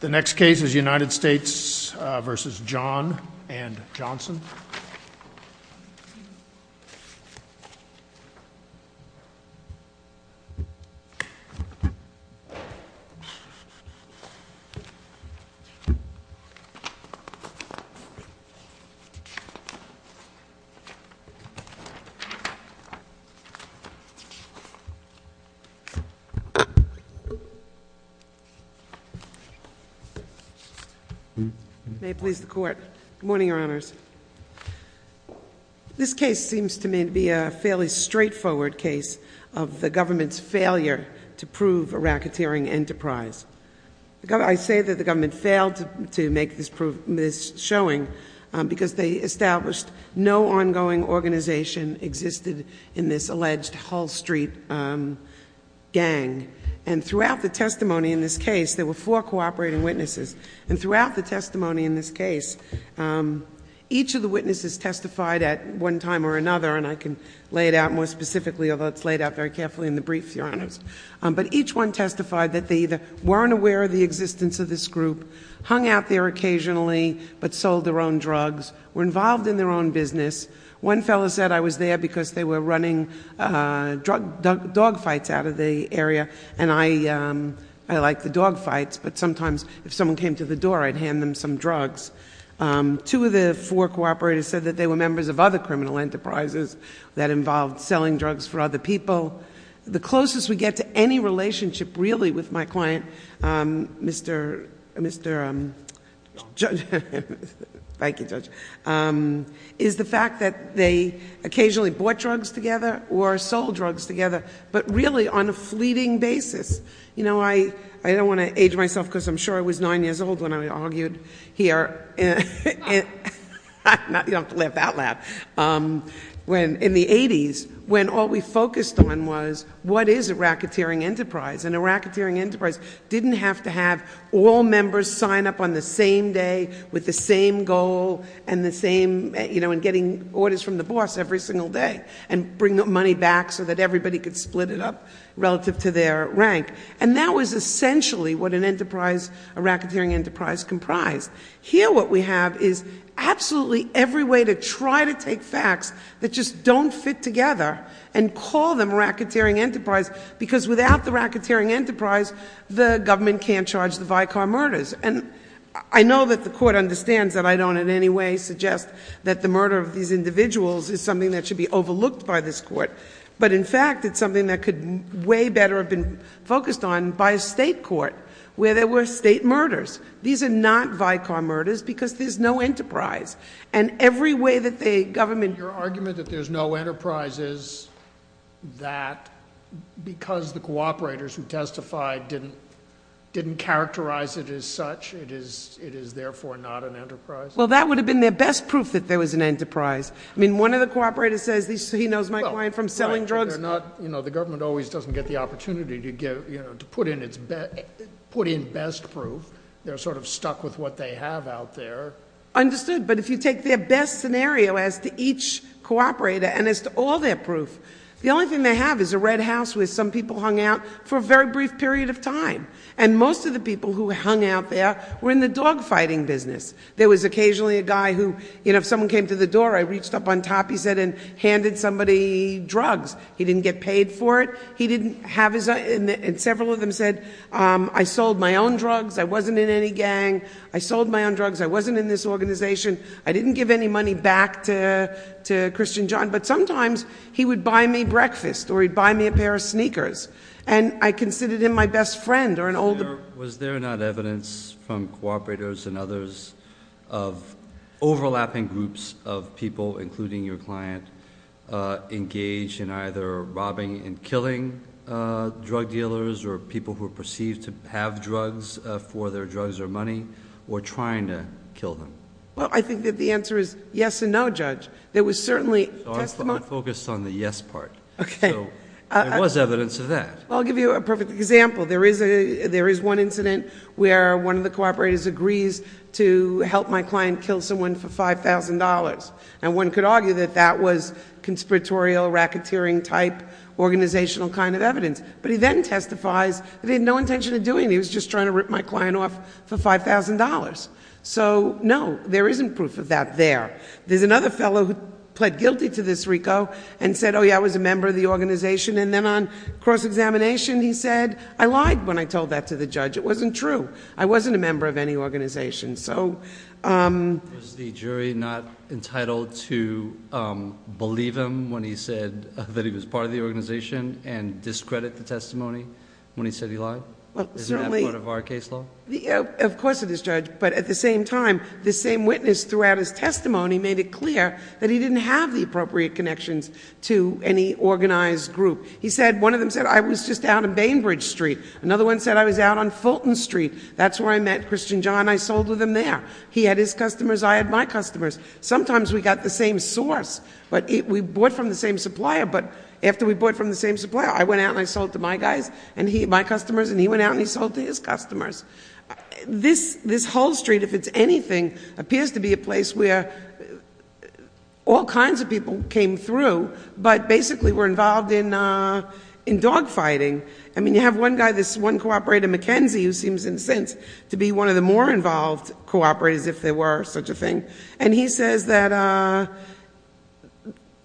The next case is United States v. John and Johnson. Good morning, Your Honors. This case seems to me to be a fairly straightforward case of the government's failure to prove a racketeering enterprise. I say that the government failed to make this showing because they established no ongoing organization existed in this alleged Hull Street gang. And throughout the testimony in this case, there were four cooperating witnesses. And throughout the testimony in this case, each of the witnesses testified at one time or another, and I can lay it out more specifically, although it's laid out very carefully in the brief, Your Honors. But each one testified that they either weren't aware of the existence of this group, hung out there occasionally, but sold their own drugs, were involved in their own business. One fellow said, I was there because they were running dog fights out of the area, and I like the dog fights, but sometimes if someone came to the door, I'd hand them some drugs. Two of the four cooperators said that they were members of other criminal enterprises that involved selling drugs for other people. The closest we get to any relationship really with my client, Mr. Johnson, is the fact that they occasionally bought drugs together or sold drugs together, but really on a fleeting basis. You know, I don't want to age myself because I'm sure I was nine years old when I argued here, you don't have to laugh that loud, in the 80s, when all we focused on was what is a racketeering enterprise? And a racketeering enterprise didn't have to have all members sign up on the same day with the same goal and the same, you know, and getting orders from the boss every single day and bring the money back so that everybody could split it up relative to their rank. And that was essentially what an enterprise, a racketeering enterprise, comprised. Here what we have is absolutely every way to try to take facts that just don't fit together and call them a racketeering enterprise, because without the racketeering enterprise, the government can't charge the Vicar murders. And I know that the court understands that I don't in any way suggest that the murder of these individuals is something that should be overlooked by this court. But in fact, it's something that could way better have been focused on by a state court where there were state murders. These are not Vicar murders because there's no enterprise. And every way that the government... Your argument that there's no enterprise is that because the cooperators who testified didn't characterize it as such, it is therefore not an enterprise? Well, that would have been their best proof that there was an enterprise. I mean, one of the cooperators says, he knows my client from selling drugs. Well, right, but they're not... You know, the government always doesn't get the opportunity to put in best proof. They're sort of stuck with what they have out there. Understood. But if you take their best scenario as to each cooperator and as to all their proof, the only thing they have is a red house where some people hung out for a very brief period of time. And most of the people who hung out there were in the dogfighting business. There was occasionally a guy who, you know, if someone came to the door, I reached up on top, he said, and handed somebody drugs. He didn't get paid for it. He didn't have his... And several of them said, I sold my own drugs, I wasn't in any gang, I sold my own drugs, I wasn't in this organization, I didn't give any money back to Christian John. But sometimes he would buy me breakfast or he'd buy me a pair of sneakers. And I considered him my best friend or an old... Was there not evidence from cooperators and others of overlapping groups of people, including your client, engaged in either robbing and killing drug dealers or people who are perceived to have drugs for their drugs or money, or trying to kill them? Well, I think that the answer is yes and no, Judge. There was certainly testimony... I want to focus on the yes part. Okay. So there was evidence of that. I'll give you a perfect example. There is one incident where one of the cooperators agrees to help my client kill someone for $5,000. And one could argue that that was conspiratorial, racketeering-type organizational kind of evidence. But he then testifies that he had no intention of doing it, he was just trying to rip my client off for $5,000. So no, there isn't proof of that there. There's another fellow who pled guilty to this, Rico, and said, oh yeah, I was a member of the organization. And then on cross-examination, he said, I lied when I told that to the judge. It wasn't true. I wasn't a member of any organization. So... Was the jury not entitled to believe him when he said that he was part of the organization and discredit the testimony when he said he lied? Isn't that part of our case law? Of course it is, Judge. But at the same time, the same witness throughout his testimony made it clear that he didn't have the appropriate connections to any organized group. He said, one of them said, I was just out on Bainbridge Street. Another one said, I was out on Fulton Street. That's where I met Christian John, I sold with him there. He had his customers, I had my customers. Sometimes we got the same source, but we bought from the same supplier, but after we bought from the same supplier, I went out and I sold to my guys, my customers, and he went out and he sold to his customers. This, this whole street, if it's anything, appears to be a place where all kinds of people came through, but basically were involved in dogfighting. I mean, you have one guy, this one cooperator, Mackenzie, who seems in a sense to be one of the more involved cooperators, if there were such a thing. And he says that,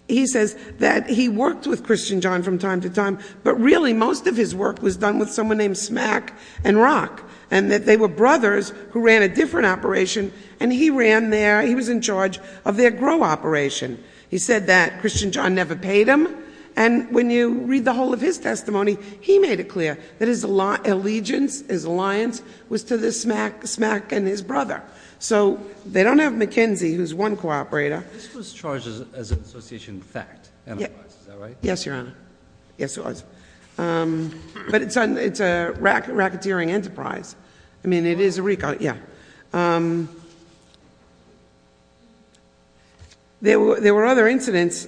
he says that he worked with Christian John from time to time, but really most of his work was done with someone named Smack and Rock, and that they were brothers who ran a different operation, and he ran their, he was in charge of their grow operation. He said that Christian John never paid him, and when you read the whole of his testimony, he made it clear that his allegiance, his alliance, was to the Smack and his brother. So they don't have Mackenzie, who's one cooperator. This was charged as an association fact, otherwise, is that right? Yes, your honor. Yes, it was. But it's a racketeering enterprise. I mean, it is a recall, yeah. There were other incidents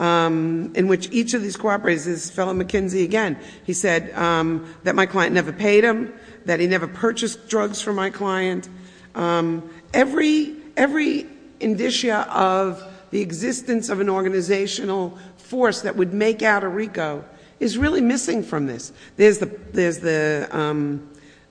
in which each of these cooperators, this fellow Mackenzie again, he said that my client never paid him, that he never purchased drugs from my client. Every, every indicia of the existence of an organizational force that would make out a RICO is really missing from this. There's the, there's the,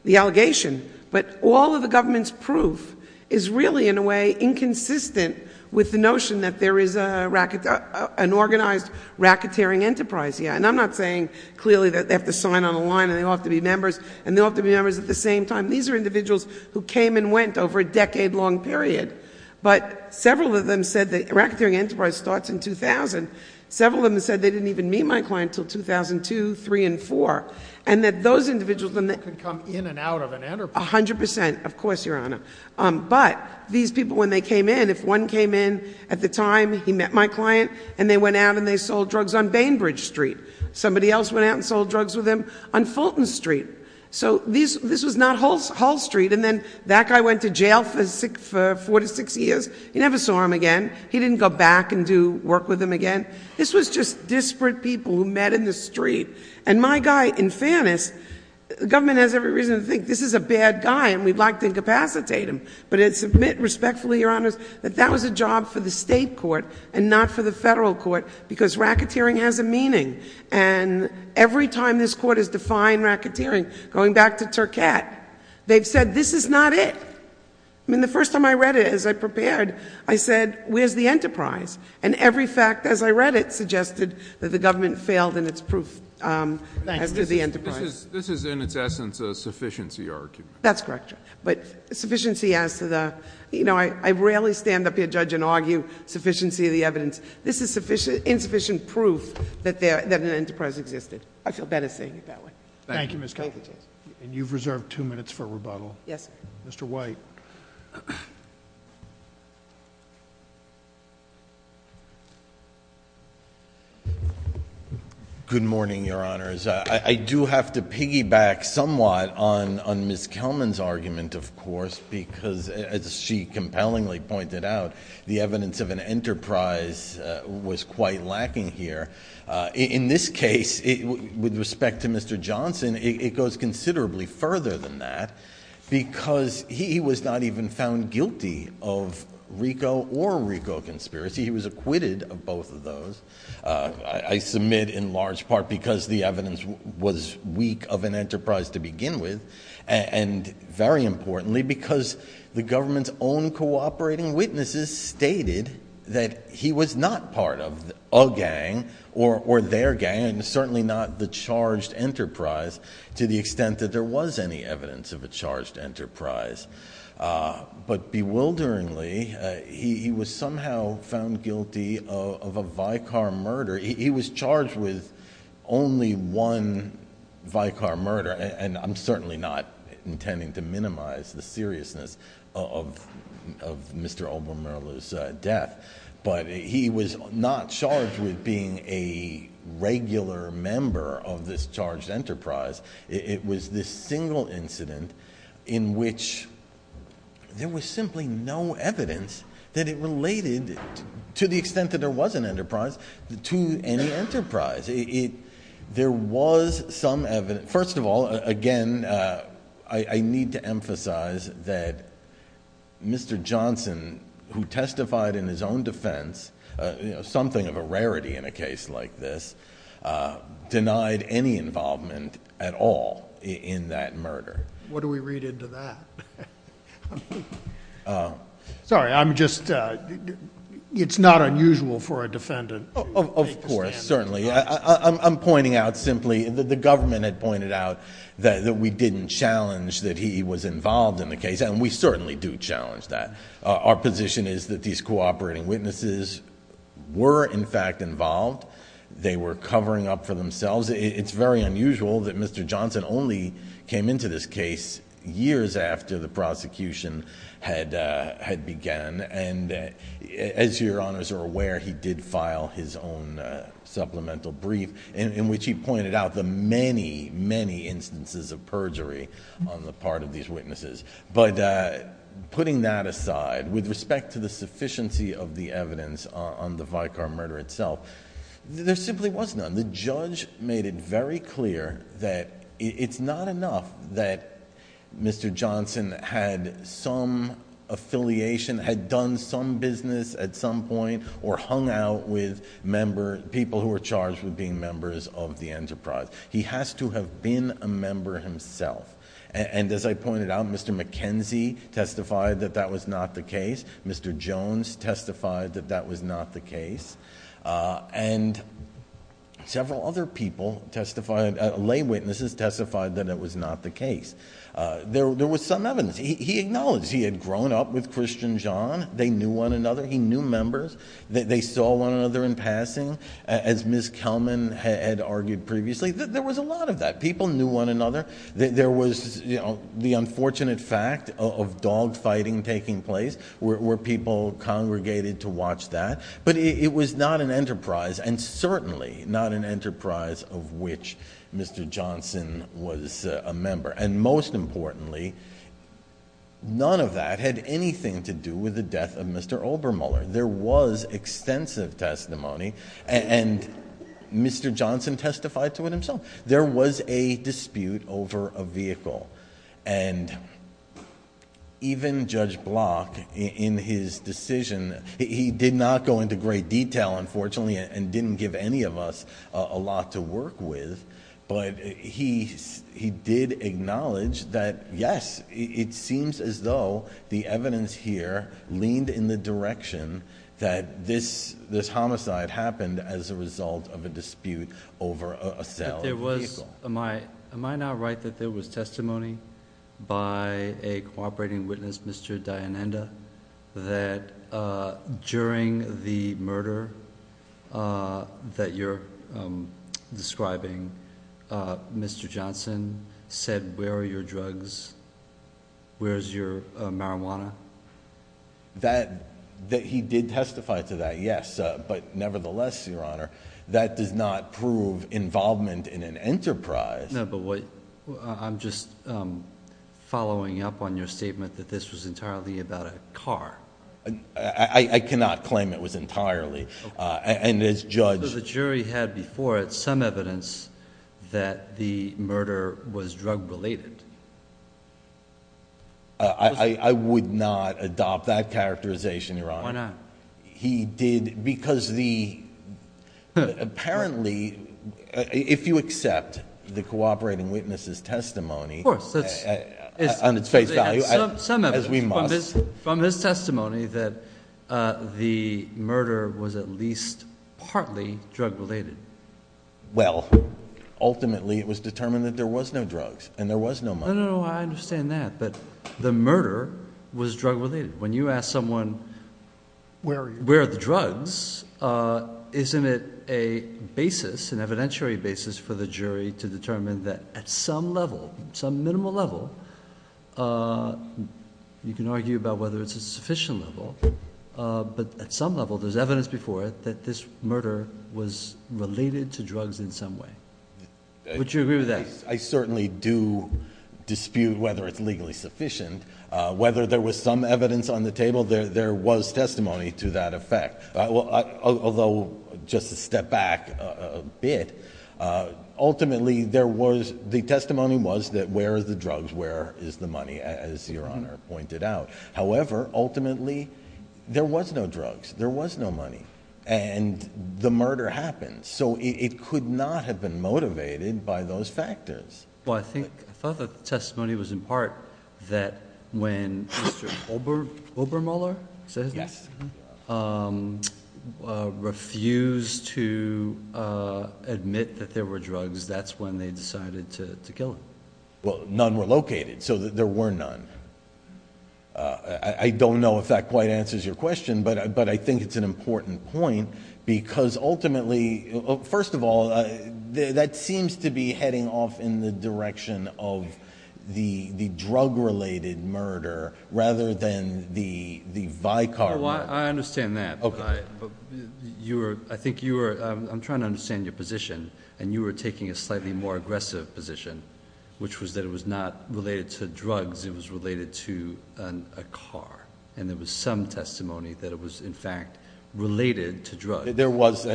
the allegation, but all of the government's proof is really, in a way, inconsistent with the notion that there is a racketeer, an organized racketeering enterprise, yeah. And I'm not saying clearly that they have to sign on a line, and they all have to be members, and they all have to be members at the same time. And these are individuals who came and went over a decade-long period. But several of them said that racketeering enterprise starts in 2000. Several of them said they didn't even meet my client until 2002, three, and four. And that those individuals, and they could come in and out of an enterprise. A hundred percent. Of course, your honor. But these people, when they came in, if one came in, at the time he met my client, and they went out and they sold drugs on Bainbridge Street. Somebody else went out and sold drugs with him on Fulton Street. So this was not Hull Street. And then that guy went to jail for four to six years. You never saw him again. He didn't go back and do work with him again. This was just disparate people who met in the street. And my guy, in fairness, the government has every reason to think this is a bad guy, and we'd like to incapacitate him. But I submit respectfully, your honors, that that was a job for the state court, and not for the federal court, because racketeering has a meaning. And every time this court has defined racketeering, going back to Tercat, they've said, this is not it. I mean, the first time I read it, as I prepared, I said, where's the enterprise? And every fact, as I read it, suggested that the government failed in its proof as to the enterprise. This is, in its essence, a sufficiency argument. That's correct, your honor. But sufficiency as to the, you know, I rarely stand up here, judge, and argue sufficiency of the evidence. This is insufficient proof that an enterprise existed. I feel better saying it that way. Thank you, Ms. Kelman. And you've reserved two minutes for rebuttal. Yes, sir. Mr. White. Good morning, your honors. I do have to piggyback somewhat on Ms. Kelman's argument, of course, because, as she compellingly pointed out, the evidence of an enterprise was quite lacking here. In this case, with respect to Mr. Johnson, it goes considerably further than that, because he was not even found guilty of RICO or RICO conspiracy. He was acquitted of both of those. I submit, in large part, because the evidence was weak of an enterprise to begin with, and, very importantly, because the government's own cooperating witnesses stated that he was not part of a gang or their gang, and certainly not the charged enterprise, to the extent that there was any evidence of a charged enterprise. But, bewilderingly, he was somehow found guilty of a Vicar murder. He was charged with only one Vicar murder, and I'm certainly not intending to minimize the seriousness of Mr. Obermeirle's death, but he was not charged with being a regular member of this charged enterprise. It was this single incident in which there was simply no evidence that it related, to the extent that there was an enterprise, to any enterprise. There was some evidence. First of all, again, I need to emphasize that Mr. Johnson, who testified in his own defense, something of a rarity in a case like this, denied any involvement at all in that murder. What do we read into that? Sorry, I'm just, it's not unusual for a defendant. Of course, certainly. I'm pointing out simply that the government had pointed out that we didn't challenge that he was involved in the case, and we certainly do challenge that. Our position is that these cooperating witnesses were, in fact, involved. They were covering up for themselves. It's very unusual that Mr. Johnson only came into this case years after the prosecution had began, and as your honors are aware, he did file his own supplemental brief, in which he pointed out the many, many instances of perjury on the part of these witnesses. But putting that aside, with respect to the sufficiency of the evidence on the Vicar murder itself, there simply was none. The judge made it very clear that it's not enough that Mr. Johnson had some affiliation, had done some business at some point, or hung out with people who were charged with being members of the enterprise. He has to have been a member himself. And as I pointed out, Mr. McKenzie testified that that was not the case. Mr. Jones testified that that was not the case. And several other people testified, lay witnesses testified that it was not the case. There was some evidence. He acknowledged he had grown up with Christian John. They knew one another. He knew members. They saw one another in passing. As Ms. Kelman had argued previously, there was a lot of that. People knew one another. There was the unfortunate fact of dogfighting taking place, where people congregated to watch that. But it was not an enterprise, and certainly not an enterprise of which Mr. Johnson was a member. And most importantly, none of that had anything to do with the death of Mr. Obermuller. There was extensive testimony, and Mr. Johnson testified to it himself. And even Judge Block, in his decision... he did not go into great detail, unfortunately, and didn't give any of us a lot to work with. But he did acknowledge that, yes, it seems as though the evidence here leaned in the direction that this homicide happened as a result of a dispute over a sale of a vehicle. Am I not right that there was testimony by a cooperating witness, Mr. Dianenda, that during the murder that you're describing, Mr. Johnson said, Where are your drugs? Where's your marijuana? He did testify to that, yes. But nevertheless, Your Honor, that does not prove involvement in an enterprise. No, but what... I'm just following up on your statement that this was entirely about a car. I cannot claim it was entirely. And as Judge... But the jury had before it some evidence that the murder was drug-related. I would not adopt that characterization, Your Honor. Why not? He did... because the... apparently, if you accept the cooperating witness's testimony... Of course.... on its face value... Some evidence.... as we must. From his testimony that the murder was at least partly drug-related. Well, ultimately, it was determined that there was no drugs, and there was no money. No, no, no. I understand that. But the murder was drug-related. When you ask someone... Where are you? Where are the drugs? Isn't it a basis, an evidentiary basis, for the jury to determine that at some level, some minimal level... You can argue about whether it's a sufficient level. But at some level, there's evidence before it that this murder was related to drugs in some way. Would you agree with that? I certainly do dispute whether it's legally sufficient. Whether there was some evidence on the table, there was testimony to that effect. Although, just to step back a bit, ultimately, there was... The testimony was that where are the drugs, where is the money, as Your Honor pointed out. However, ultimately, there was no drugs. There was no money. And, the murder happened. So, it could not have been motivated by those factors. Well, I think... I thought the testimony was in part that when Mr. Obermuller refused to admit that there were drugs, that's when they decided to kill him. Well, none were located. So, there were none. I don't know if that quite answers your question, but I think it's an important point. Because, ultimately... First of all, that seems to be heading off in the direction of the drug-related murder, rather than the Vicar murder. Well, I understand that. But, I think you were... I'm trying to understand your position. And, you were taking a slightly more aggressive position, which was that it was not related to drugs. It was related to a car. And, there was some testimony that it was, in fact, related to drugs. There was...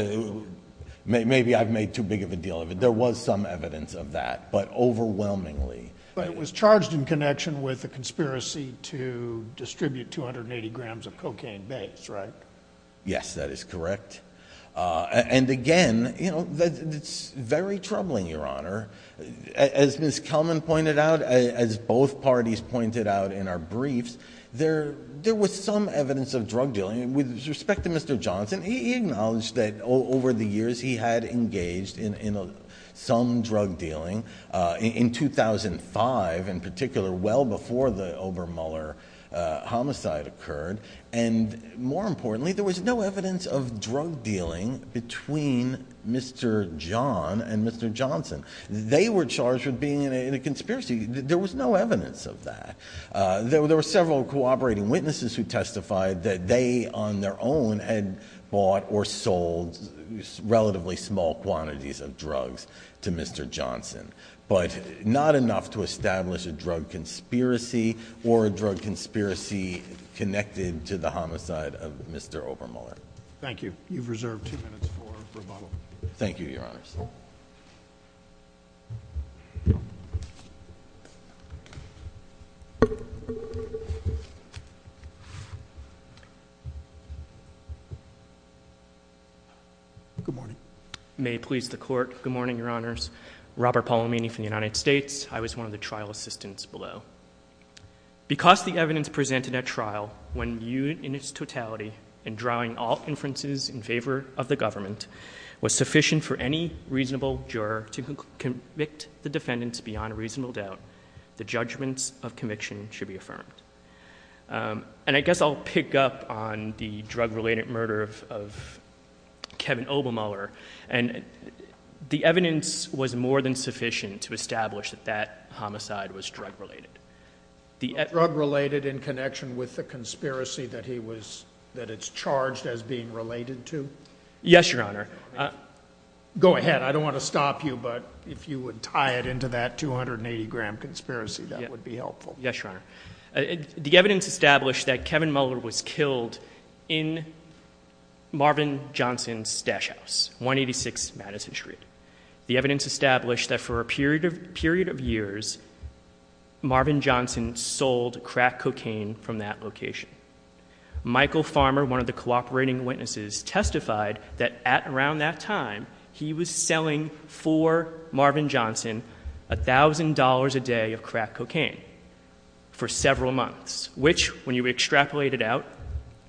Maybe I've made too big of a deal of it. There was some evidence of that. But, overwhelmingly... But, it was charged in connection with a conspiracy to distribute 280 grams of cocaine base, right? Yes, that is correct. And, again, you know, it's very troubling, Your Honor. As Ms. Kelman pointed out, as both parties pointed out in our briefs, there was some evidence of drug dealing. With respect to Mr. Johnson, he acknowledged that, over the years, he had engaged in some drug dealing. In 2005, in particular, well before the Obermüller homicide occurred. And, more importantly, there was no evidence of drug dealing between Mr. John and Mr. Johnson. They were charged with being in a conspiracy. There was no evidence of that. There were several cooperating witnesses who testified that they, on their own, had bought or sold relatively small quantities of drugs to Mr. Johnson. But, not enough to establish a drug conspiracy or a drug conspiracy connected to the homicide of Mr. Obermüller. Thank you. You've reserved two minutes for rebuttal. Thank you, Your Honors. Good morning. May it please the Court. Good morning, Your Honors. Robert Polomini from the United States. I was one of the trial assistants below. Because the evidence presented at trial, when viewed in its totality and drawing all inferences in favor of the government, was sufficient for any reasonable juror to convict the defendants beyond reasonable doubt, the judgments of conviction should be affirmed. And I guess I'll pick up on the drug-related murder of Kevin Obermüller. The evidence was more than sufficient to establish that that homicide was drug-related. Drug-related in connection with the conspiracy that it's charged as being related to? Yes, Your Honor. Go ahead. I don't want to stop you, but if you would tie it into that 280-gram conspiracy, that would be helpful. Yes, Your Honor. The evidence established that Kevin Muller was killed in Marvin Johnson's stash house, 186 Madison Street. The evidence established that for a period of years, Marvin Johnson sold crack cocaine from that location. Michael Farmer, one of the cooperating witnesses, testified that around that time, he was selling for Marvin Johnson $1,000 a day of crack cocaine for several months, which, when you extrapolate it out,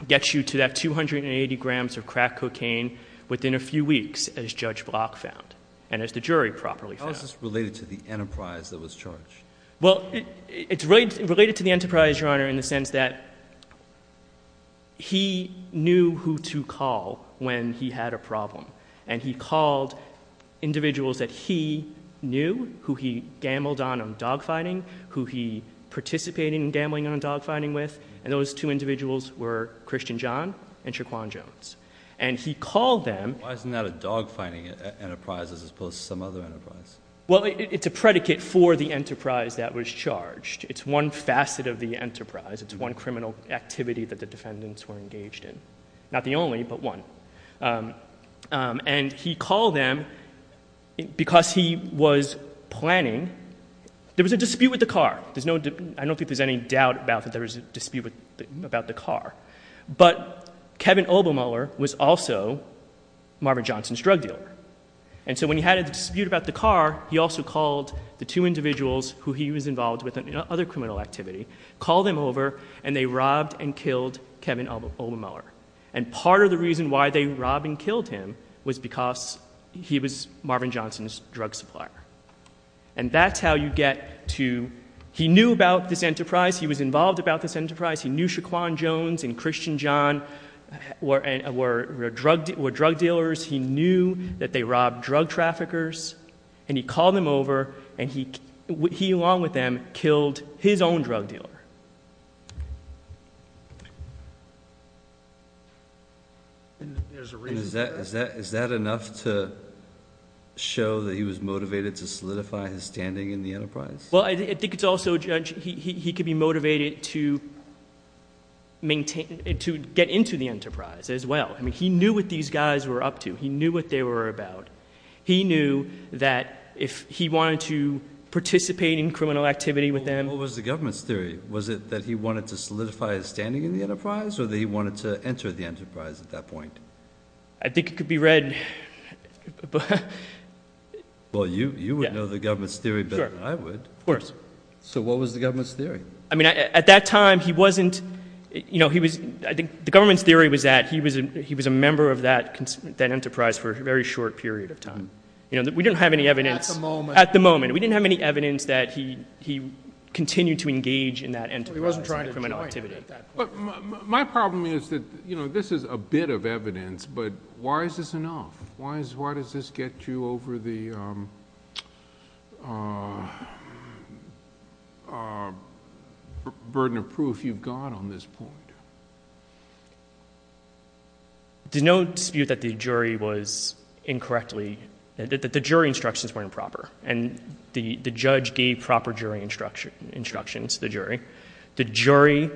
gets you to that 280 grams of crack cocaine within a few weeks, as Judge Block found and as the jury properly found. How is this related to the enterprise that was charged? Well, it's related to the enterprise, Your Honor, in the sense that he knew who to call when he had a problem. And he called individuals that he knew, who he gambled on dogfighting, who he participated in gambling on dogfighting with, and those two individuals were Christian John and Shaquan Jones. And he called them. Why isn't that a dogfighting enterprise as opposed to some other enterprise? Well, it's a predicate for the enterprise that was charged. It's one facet of the enterprise. It's one criminal activity that the defendants were engaged in. Not the only, but one. And he called them because he was planning. There was a dispute with the car. I don't think there's any doubt about that there was a dispute about the car. But Kevin Obermuller was also Marvin Johnson's drug dealer. And so when he had a dispute about the car, he also called the two individuals who he was involved with in other criminal activity, called them over, and they robbed and killed Kevin Obermuller. And part of the reason why they robbed and killed him was because he was Marvin Johnson's drug supplier. And that's how you get to, he knew about this enterprise. He was involved about this enterprise. He knew Shaquan Jones and Christian John were drug dealers. He knew that they robbed drug traffickers. And he called them over, and he, along with them, killed his own drug dealer. Is that enough to show that he was motivated to solidify his standing in the enterprise? Well, I think it's also, Judge, he could be motivated to get into the enterprise as well. I mean, he knew what these guys were up to. He knew what they were about. He knew that if he wanted to participate in criminal activity with them. What was the government's theory? Was it that he wanted to solidify his standing in the enterprise or that he wanted to enter the enterprise at that point? I think it could be read. Well, you would know the government's theory better than I would. Of course. So what was the government's theory? I mean, at that time, he wasn't, you know, he was, I think the government's theory was that he was a member of that enterprise for a very short period of time. You know, we didn't have any evidence. At the moment. At the moment. We didn't have any evidence that he continued to engage in that enterprise. He wasn't trying to join it at that point. My problem is that, you know, this is a bit of evidence, but why is this enough? Why does this get you over the burden of proof you've got on this point? There's no dispute that the jury was incorrectly, that the jury instructions were improper. And the judge gave proper jury instructions to the jury. The jury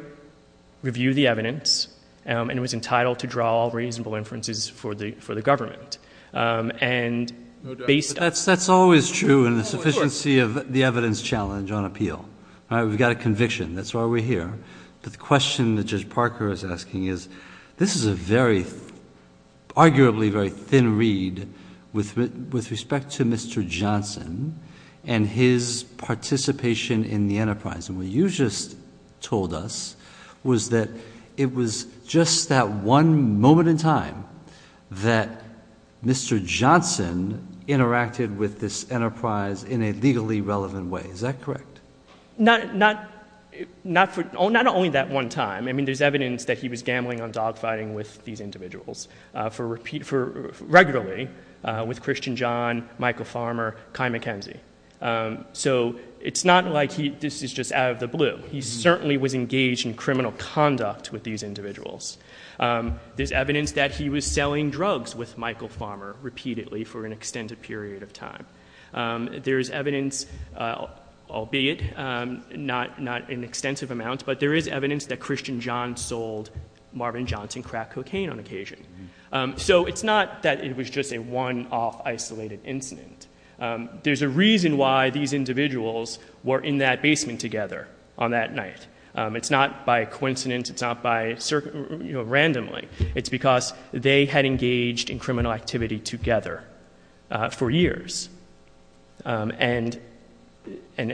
reviewed the evidence and was entitled to draw reasonable inferences for the government. And based on. That's always true in the sufficiency of the evidence challenge on appeal. All right. We've got a conviction. That's why we're here. But the question that Judge Parker is asking is, this is a very, arguably very thin read with respect to Mr. Johnson and his participation in the enterprise. And what you just told us was that it was just that one moment in time that Mr. Johnson interacted with this enterprise in a legally relevant way. Is that correct? Not only that one time. I mean, there's evidence that he was gambling on dogfighting with these individuals regularly with Christian John, Michael Farmer, Kai McKenzie. So it's not like this is just out of the blue. He certainly was engaged in criminal conduct with these individuals. There's evidence that he was selling drugs with Michael Farmer repeatedly for an extended period of time. There's evidence, albeit not in extensive amounts, but there is evidence that Christian John sold Marvin Johnson crack cocaine on occasion. So it's not that it was just a one-off isolated incident. There's a reason why these individuals were in that basement together on that night. It's not by coincidence. It's not by, you know, randomly. It's because they had engaged in criminal activity together for years. And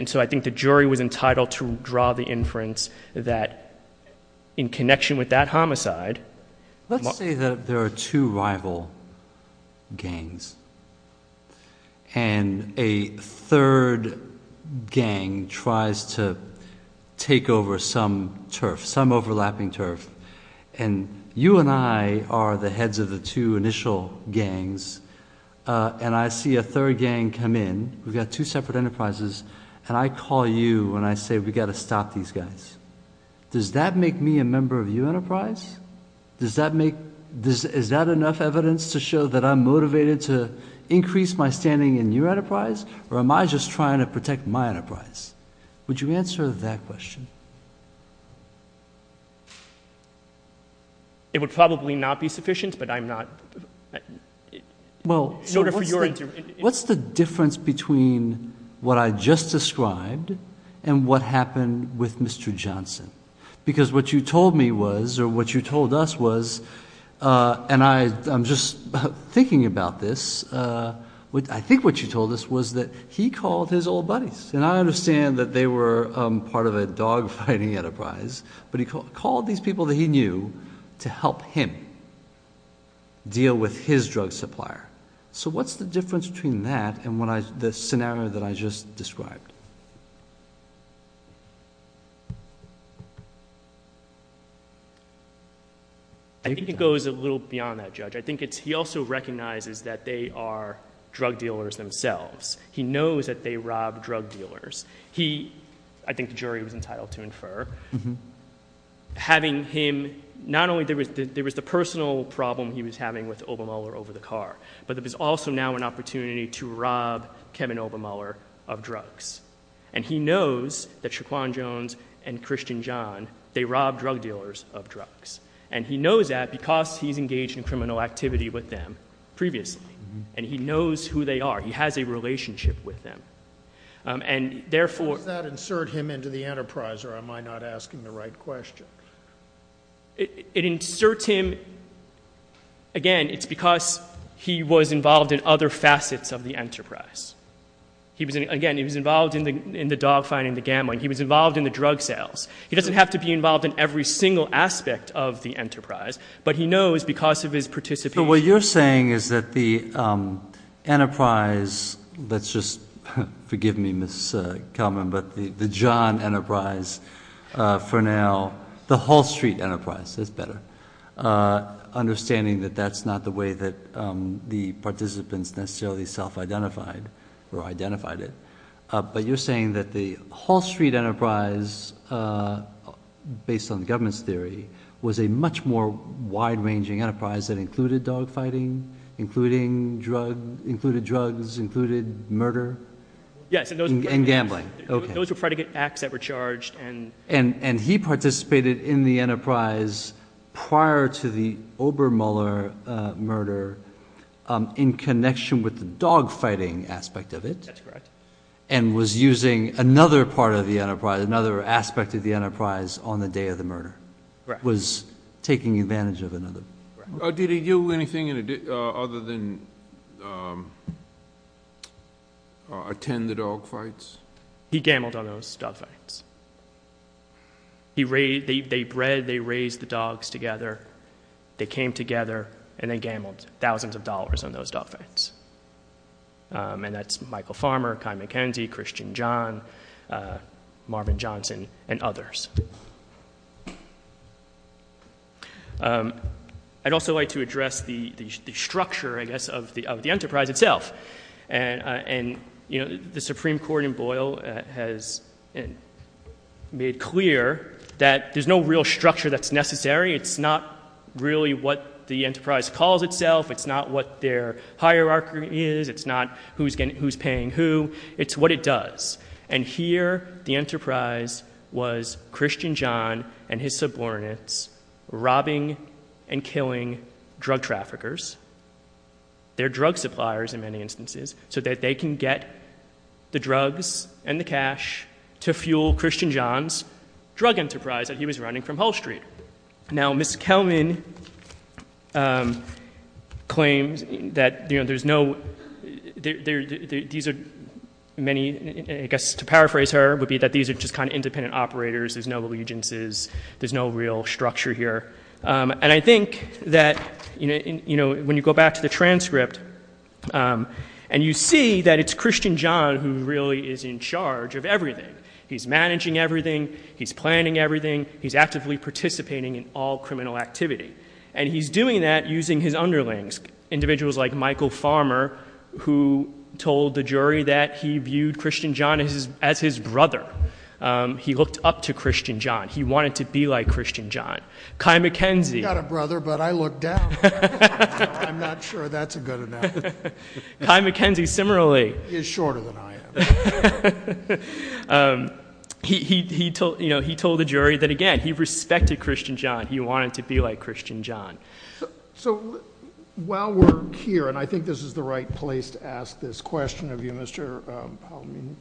so I think the jury was entitled to draw the inference that in connection with that homicide. Let's say that there are two rival gangs. And a third gang tries to take over some turf, some overlapping turf. And you and I are the heads of the two initial gangs. And I see a third gang come in. We've got two separate enterprises. And I call you and I say, we've got to stop these guys. Does that make me a member of your enterprise? Is that enough evidence to show that I'm motivated to increase my standing in your enterprise? Or am I just trying to protect my enterprise? Would you answer that question? It would probably not be sufficient, but I'm not. Well, what's the difference between what I just described and what happened with Mr. Johnson? Because what you told me was, or what you told us was, and I'm just thinking about this. I think what you told us was that he called his old buddies. And I understand that they were part of a dogfighting enterprise. But he called these people that he knew to help him deal with his drug supplier. So what's the difference between that and the scenario that I just described? I think it goes a little beyond that, Judge. I think he also recognizes that they are drug dealers themselves. He knows that they rob drug dealers. He, I think the jury was entitled to infer, having him, not only there was the personal problem he was having with Obermuller over the car, but there was also now an opportunity to rob Kevin Obermuller of drugs. And he knows that Shaquan Jones and Christian John, they robbed drug dealers of drugs. And he knows that because he's engaged in criminal activity with them previously. And he knows who they are. He has a relationship with them. Does that insert him into the enterprise, or am I not asking the right question? It inserts him. Again, it's because he was involved in other facets of the enterprise. Again, he was involved in the dogfighting, the gambling. He was involved in the drug sales. He doesn't have to be involved in every single aspect of the enterprise. But he knows because of his participation. Again, what you're saying is that the enterprise, let's just forgive me, Ms. Kelman, but the John enterprise for now, the Hall Street enterprise is better, understanding that that's not the way that the participants necessarily self-identified or identified it. But you're saying that the Hall Street enterprise, based on the government's theory, was a much more wide-ranging enterprise that included dogfighting, included drugs, included murder? Yes. And gambling. Those were frantic acts that were charged. And he participated in the enterprise prior to the Obermüller murder in connection with the dogfighting aspect of it. That's correct. And was using another part of the enterprise, another aspect of the enterprise on the day of the murder. Correct. Was taking advantage of another. Correct. Did he do anything other than attend the dogfights? He gambled on those dogfights. They bred, they raised the dogs together, they came together, and they gambled thousands of dollars on those dogfights. And that's Michael Farmer, Kai McKenzie, Christian John, Marvin Johnson, and others. I'd also like to address the structure, I guess, of the enterprise itself. And the Supreme Court in Boyle has made clear that there's no real structure that's necessary. It's not really what the enterprise calls itself. It's not what their hierarchy is. It's not who's paying who. It's what it does. And here the enterprise was Christian John and his subordinates robbing and killing drug traffickers, their drug suppliers in many instances, so that they can get the drugs and the cash to fuel Christian John's drug enterprise that he was running from Hull Street. Now, Ms. Kelman claims that there's no—these are many—I guess to paraphrase her, it would be that these are just kind of independent operators, there's no allegiances, there's no real structure here. And I think that when you go back to the transcript and you see that it's Christian John who really is in charge of everything. He's managing everything. He's planning everything. He's actively participating in all criminal activity. And he's doing that using his underlings, individuals like Michael Farmer, who told the jury that he viewed Christian John as his brother. He looked up to Christian John. He wanted to be like Christian John. Kai McKenzie— I've got a brother, but I look down. I'm not sure that's a good analogy. Kai McKenzie, similarly— He's shorter than I am. He told the jury that, again, he respected Christian John. He wanted to be like Christian John. So while we're here, and I think this is the right place to ask this question of you, Mr. Palamini,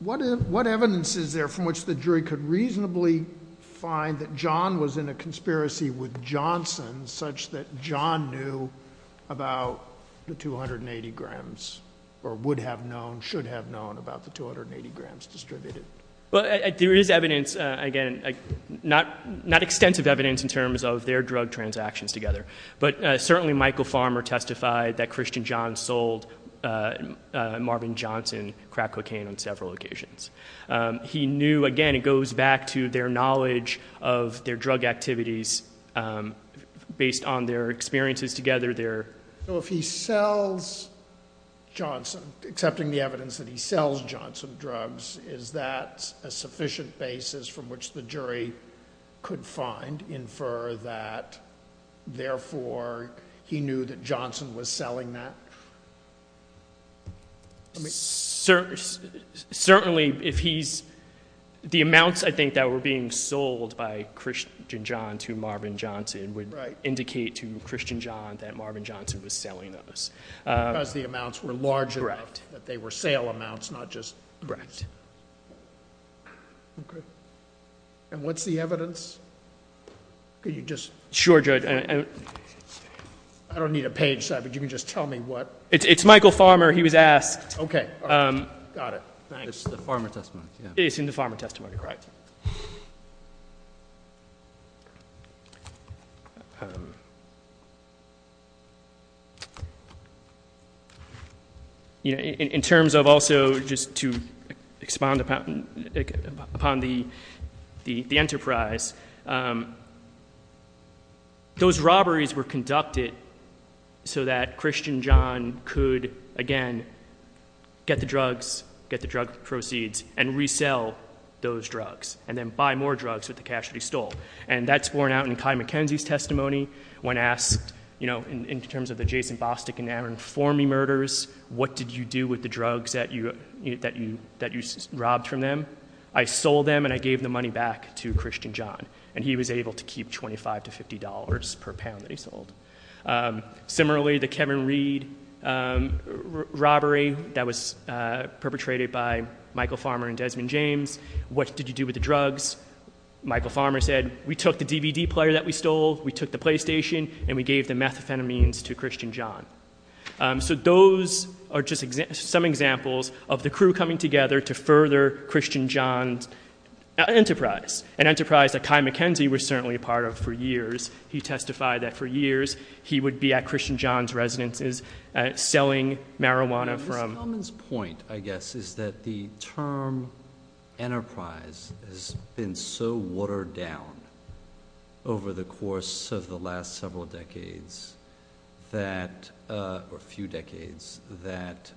what evidence is there from which the jury could reasonably find that John was in a conspiracy with Johnson such that John knew about the 280 grams or would have known, should have known about the 280 grams distributed? Well, there is evidence, again, not extensive evidence in terms of their drug transactions together, but certainly Michael Farmer testified that Christian John sold Marvin Johnson crack cocaine on several occasions. He knew, again, it goes back to their knowledge of their drug activities based on their experiences together. So if he sells Johnson, accepting the evidence that he sells Johnson drugs, is that a sufficient basis from which the jury could find, infer that, therefore, he knew that Johnson was selling that? Certainly, if he's—the amounts, I think, that were being sold by Christian John to Marvin Johnson would indicate to Christian John that Marvin Johnson was selling those. Because the amounts were large enough that they were sale amounts, not just— Correct. Okay. And what's the evidence? Could you just— Sure, Judge. I don't need a page, but you can just tell me what— It's Michael Farmer. He was asked. Okay. Got it. It's in the Farmer testimony. It's in the Farmer testimony, correct. Okay. In terms of also just to expand upon the enterprise, those robberies were conducted so that Christian John could, again, get the drugs, get the drug proceeds, and resell those drugs, and then buy more drugs with the cash that he stole. And that's borne out in Kai McKenzie's testimony when asked, you know, in terms of the Jason Bostic and Aaron Formey murders, what did you do with the drugs that you robbed from them? I sold them and I gave the money back to Christian John, and he was able to keep $25 to $50 per pound that he sold. Similarly, the Kevin Reed robbery that was perpetrated by Michael Farmer and Desmond James, what did you do with the drugs? Michael Farmer said, we took the DVD player that we stole, we took the PlayStation, and we gave the methamphetamines to Christian John. So those are just some examples of the crew coming together to further Christian John's enterprise, an enterprise that Kai McKenzie was certainly a part of for years. He testified that for years he would be at Christian John's residences selling marijuana from Mr. Kelman's point, I guess, is that the term enterprise has been so watered down over the course of the last several decades or few decades that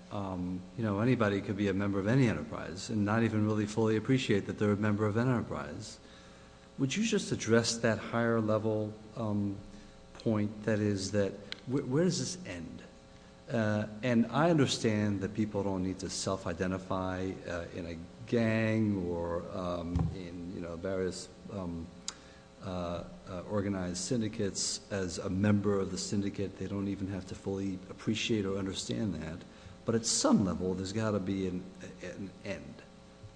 anybody could be a member of any enterprise and not even really fully appreciate that they're a member of an enterprise. Would you just address that higher level point, that is, where does this end? And I understand that people don't need to self-identify in a gang or in various organized syndicates as a member of the syndicate. They don't even have to fully appreciate or understand that. But at some level, there's got to be an end.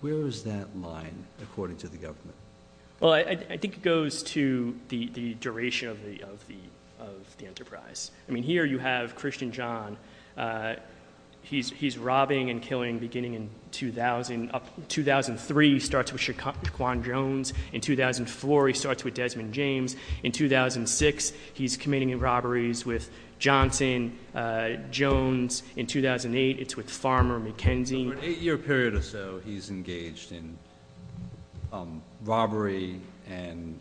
Where is that line, according to the government? Well, I think it goes to the duration of the enterprise. I mean, here you have Christian John. He's robbing and killing beginning in 2003. He starts with Shaquan Jones. In 2004, he starts with Desmond James. In 2006, he's committing robberies with Johnson Jones. In 2008, it's with Farmer McKenzie. For an eight-year period or so, he's engaged in robbery and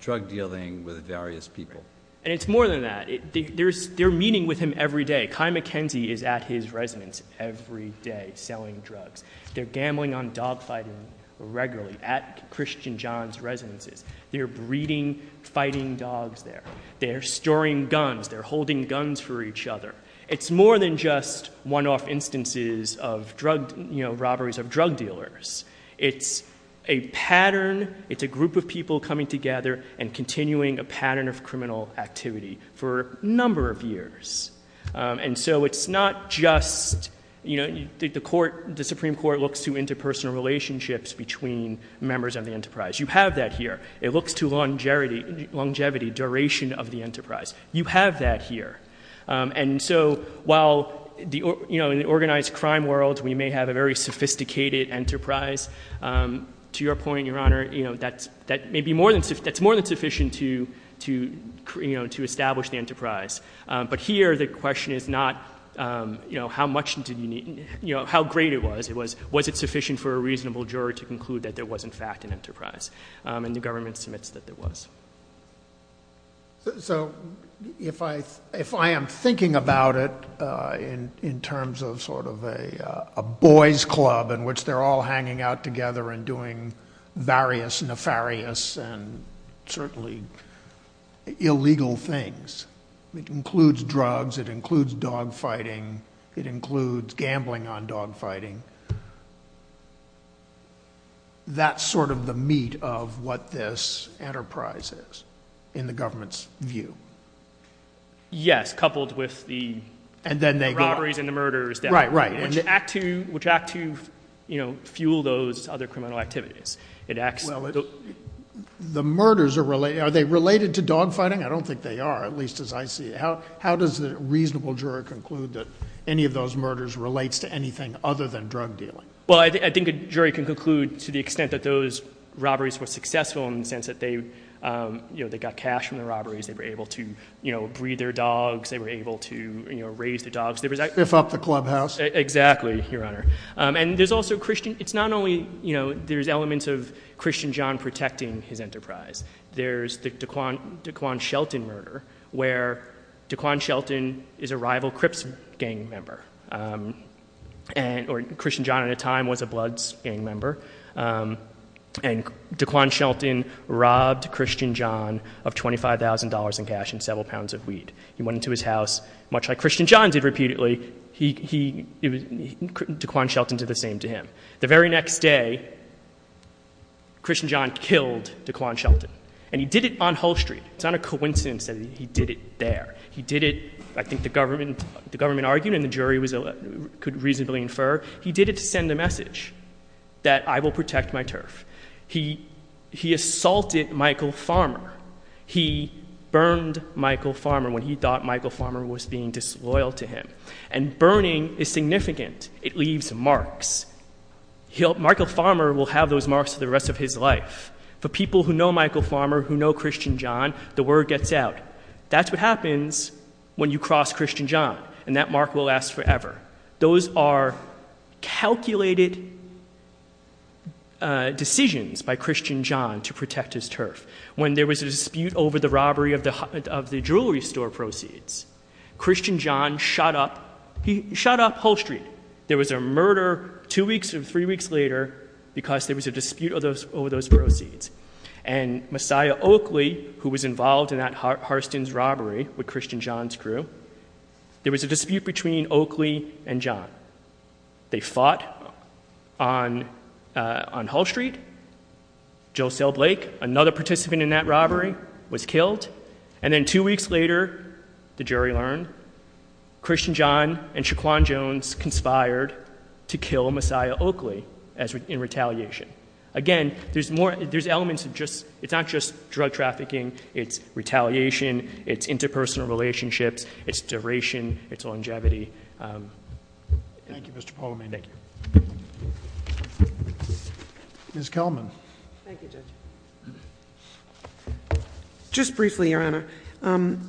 drug dealing with various people. And it's more than that. They're meeting with him every day. Kai McKenzie is at his residence every day selling drugs. They're gambling on dogfighting regularly at Christian John's residences. They're breeding fighting dogs there. They're storing guns. They're holding guns for each other. It's more than just one-off instances of drug, you know, robberies of drug dealers. It's a pattern. It's a group of people coming together and continuing a pattern of criminal activity for a number of years. And so it's not just, you know, the Supreme Court looks to interpersonal relationships between members of the enterprise. You have that here. It looks to longevity, duration of the enterprise. You have that here. And so while, you know, in the organized crime world, we may have a very sophisticated enterprise, to your point, Your Honor, you know, that's maybe more than sufficient to establish the enterprise. But here the question is not, you know, how much did you need, you know, how great it was. It was, was it sufficient for a reasonable juror to conclude that there was, in fact, an enterprise? And the government submits that there was. So if I am thinking about it in terms of sort of a boys club in which they're all hanging out together and doing various nefarious and certainly illegal things, it includes drugs. It includes dog fighting. It includes gambling on dog fighting. That's sort of the meat of what this enterprise is in the government's view. Yes, coupled with the robberies and the murders. Right, right. Which act to, you know, fuel those other criminal activities. Well, the murders are related. Are they related to dog fighting? I don't think they are, at least as I see it. How does the reasonable juror conclude that any of those murders relates to anything other than drug dealing? Well, I think a jury can conclude to the extent that those robberies were successful in the sense that they, you know, they got cash from the robberies. They were able to, you know, breed their dogs. They were able to, you know, raise their dogs. Spiff up the clubhouse. Exactly, Your Honor. And there's also Christian, it's not only, you know, there's elements of Christian John protecting his enterprise. There's the Dequan Shelton murder where Dequan Shelton is a rival Crips gang member. And, or Christian John at the time was a Bloods gang member. And Dequan Shelton robbed Christian John of $25,000 in cash and several pounds of weed. He went into his house, much like Christian John did repeatedly. He, he, Dequan Shelton did the same to him. The very next day, Christian John killed Dequan Shelton. And he did it on Hull Street. It's not a coincidence that he did it there. He did it, I think the government, the government argued and the jury was, could reasonably infer. He did it to send a message that I will protect my turf. He, he assaulted Michael Farmer. He burned Michael Farmer when he thought Michael Farmer was being disloyal to him. And burning is significant. It leaves marks. He'll, Michael Farmer will have those marks for the rest of his life. For people who know Michael Farmer, who know Christian John, the word gets out. That's what happens when you cross Christian John. And that mark will last forever. Those are calculated decisions by Christian John to protect his turf. When there was a dispute over the robbery of the, of the jewelry store proceeds, Christian John shot up, he shot up Hull Street. There was a murder two weeks or three weeks later because there was a dispute over those, over those proceeds. And Messiah Oakley, who was involved in that Harston's robbery with Christian John's crew, there was a dispute between Oakley and John. They fought on, on Hull Street. Josel Blake, another participant in that robbery, was killed. And then two weeks later, the jury learned, Christian John and Shaquan Jones conspired to kill Messiah Oakley in retaliation. Again, there's more, there's elements of just, it's not just drug trafficking. It's retaliation. It's interpersonal relationships. It's duration. It's longevity. Thank you, Mr. Poliman. Thank you. Ms. Kelman. Thank you, Judge. Just briefly, Your Honor. I'm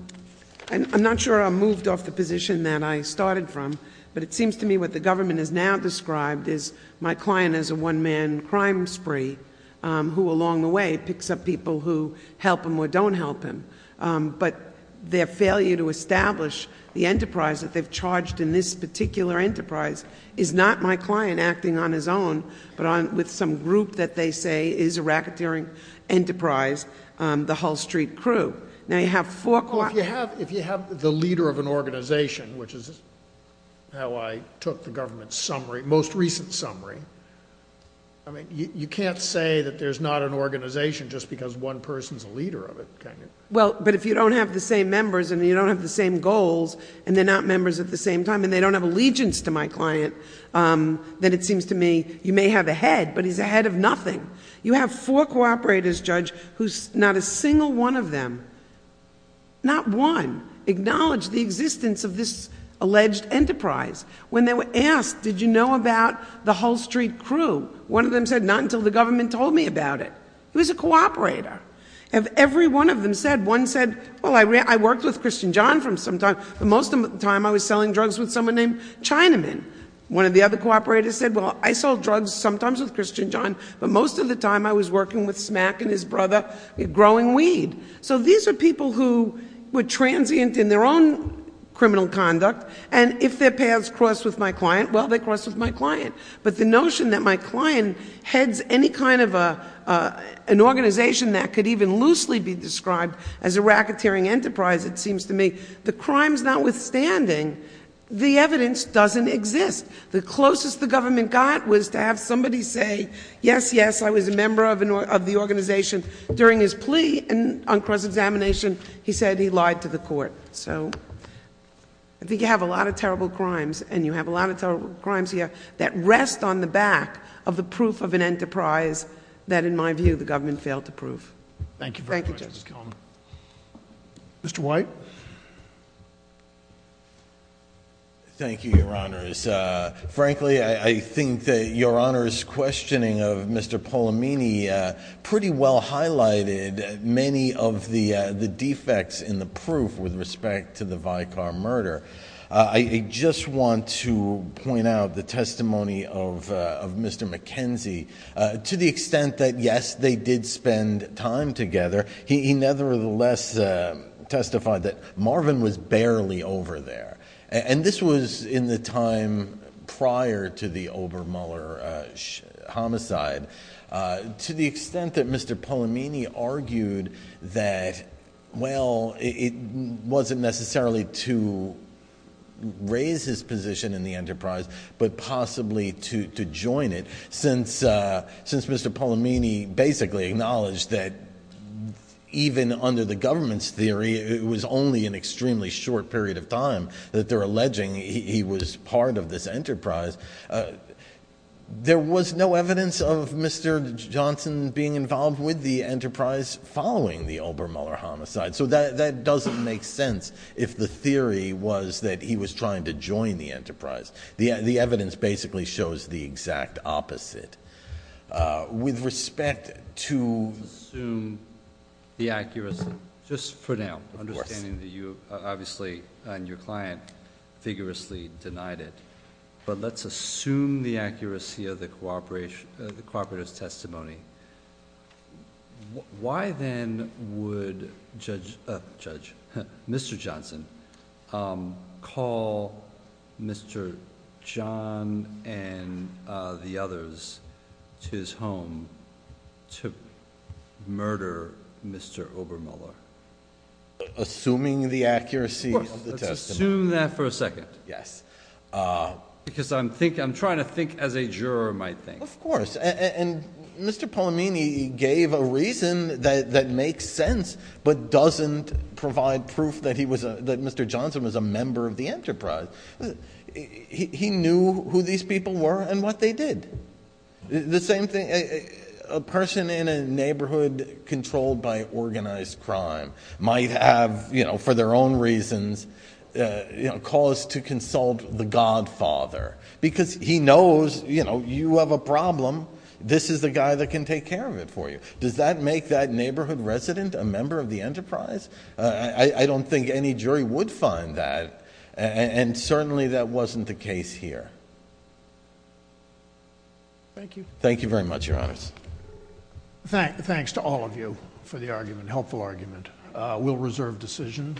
not sure I'm moved off the position that I started from. But it seems to me what the government has now described is my client is a one-man crime spree, who along the way picks up people who help him or don't help him. But their failure to establish the enterprise that they've charged in this particular enterprise is not my client acting on his own, but with some group that they say is a racketeering enterprise, the Hull Street crew. Now, you have four- Well, if you have the leader of an organization, which is how I took the government's summary, most recent summary, I mean, you can't say that there's not an organization just because one person's a leader of it, can you? Well, but if you don't have the same members and you don't have the same goals, and they're not members at the same time and they don't have allegiance to my client, then it seems to me you may have a head, but he's a head of nothing. You have four cooperators, Judge, who not a single one of them, not one, acknowledged the existence of this alleged enterprise. When they were asked, did you know about the Hull Street crew, one of them said, not until the government told me about it. He was a cooperator. And every one of them said, one said, well, I worked with Christian John for some time, but most of the time I was selling drugs with someone named Chinaman. One of the other cooperators said, well, I sold drugs sometimes with Christian John, but most of the time I was working with Smack and his brother growing weed. So these are people who were transient in their own criminal conduct, and if their paths crossed with my client, well, they crossed with my client. But the notion that my client heads any kind of an organization that could even loosely be described as a racketeering enterprise, it seems to me, the crimes notwithstanding, the evidence doesn't exist. The closest the government got was to have somebody say, yes, yes, I was a member of the organization. During his plea on cross-examination, he said he lied to the court. So I think you have a lot of terrible crimes, and you have a lot of terrible crimes here, that rest on the back of the proof of an enterprise that, in my view, the government failed to prove. Thank you very much, Justice Kellman. Thank you, Justice Kellman. Mr. White? Thank you, Your Honors. Frankly, I think that Your Honor's questioning of Mr. Polamini pretty well highlighted many of the defects in the proof with respect to the Vicar murder. I just want to point out the testimony of Mr. McKenzie. To the extent that, yes, they did spend time together, he nevertheless testified that Marvin was barely over there. And this was in the time prior to the Obermüller homicide. To the extent that Mr. Polamini argued that, well, it wasn't necessarily to raise his position in the enterprise, but possibly to join it, since Mr. Polamini basically acknowledged that even under the government's theory, it was only an extremely short period of time that they're alleging he was part of this enterprise, there was no evidence of Mr. Johnson being involved with the enterprise following the Obermüller homicide. So that doesn't make sense if the theory was that he was trying to join the enterprise. The evidence basically shows the exact opposite. With respect to... Let's assume the accuracy, just for now, understanding that you obviously and your client vigorously denied it. But let's assume the accuracy of the cooperator's testimony. Why then would Mr. Johnson call Mr. John and the others to his home to murder Mr. Obermüller? Assuming the accuracy of the testimony. Let's assume that for a second. Yes. Because I'm trying to think as a juror might think. Of course. And Mr. Polamini gave a reason that makes sense but doesn't provide proof that Mr. Johnson was a member of the enterprise. He knew who these people were and what they did. The same thing. A person in a neighborhood controlled by organized crime might have, for their own reasons, caused to consult the godfather because he knows you have a problem. This is the guy that can take care of it for you. Does that make that neighborhood resident a member of the enterprise? I don't think any jury would find that. And certainly that wasn't the case here. Thank you. Thank you very much, Your Honors. Thanks to all of you for the argument, helpful argument. We'll reserve decision.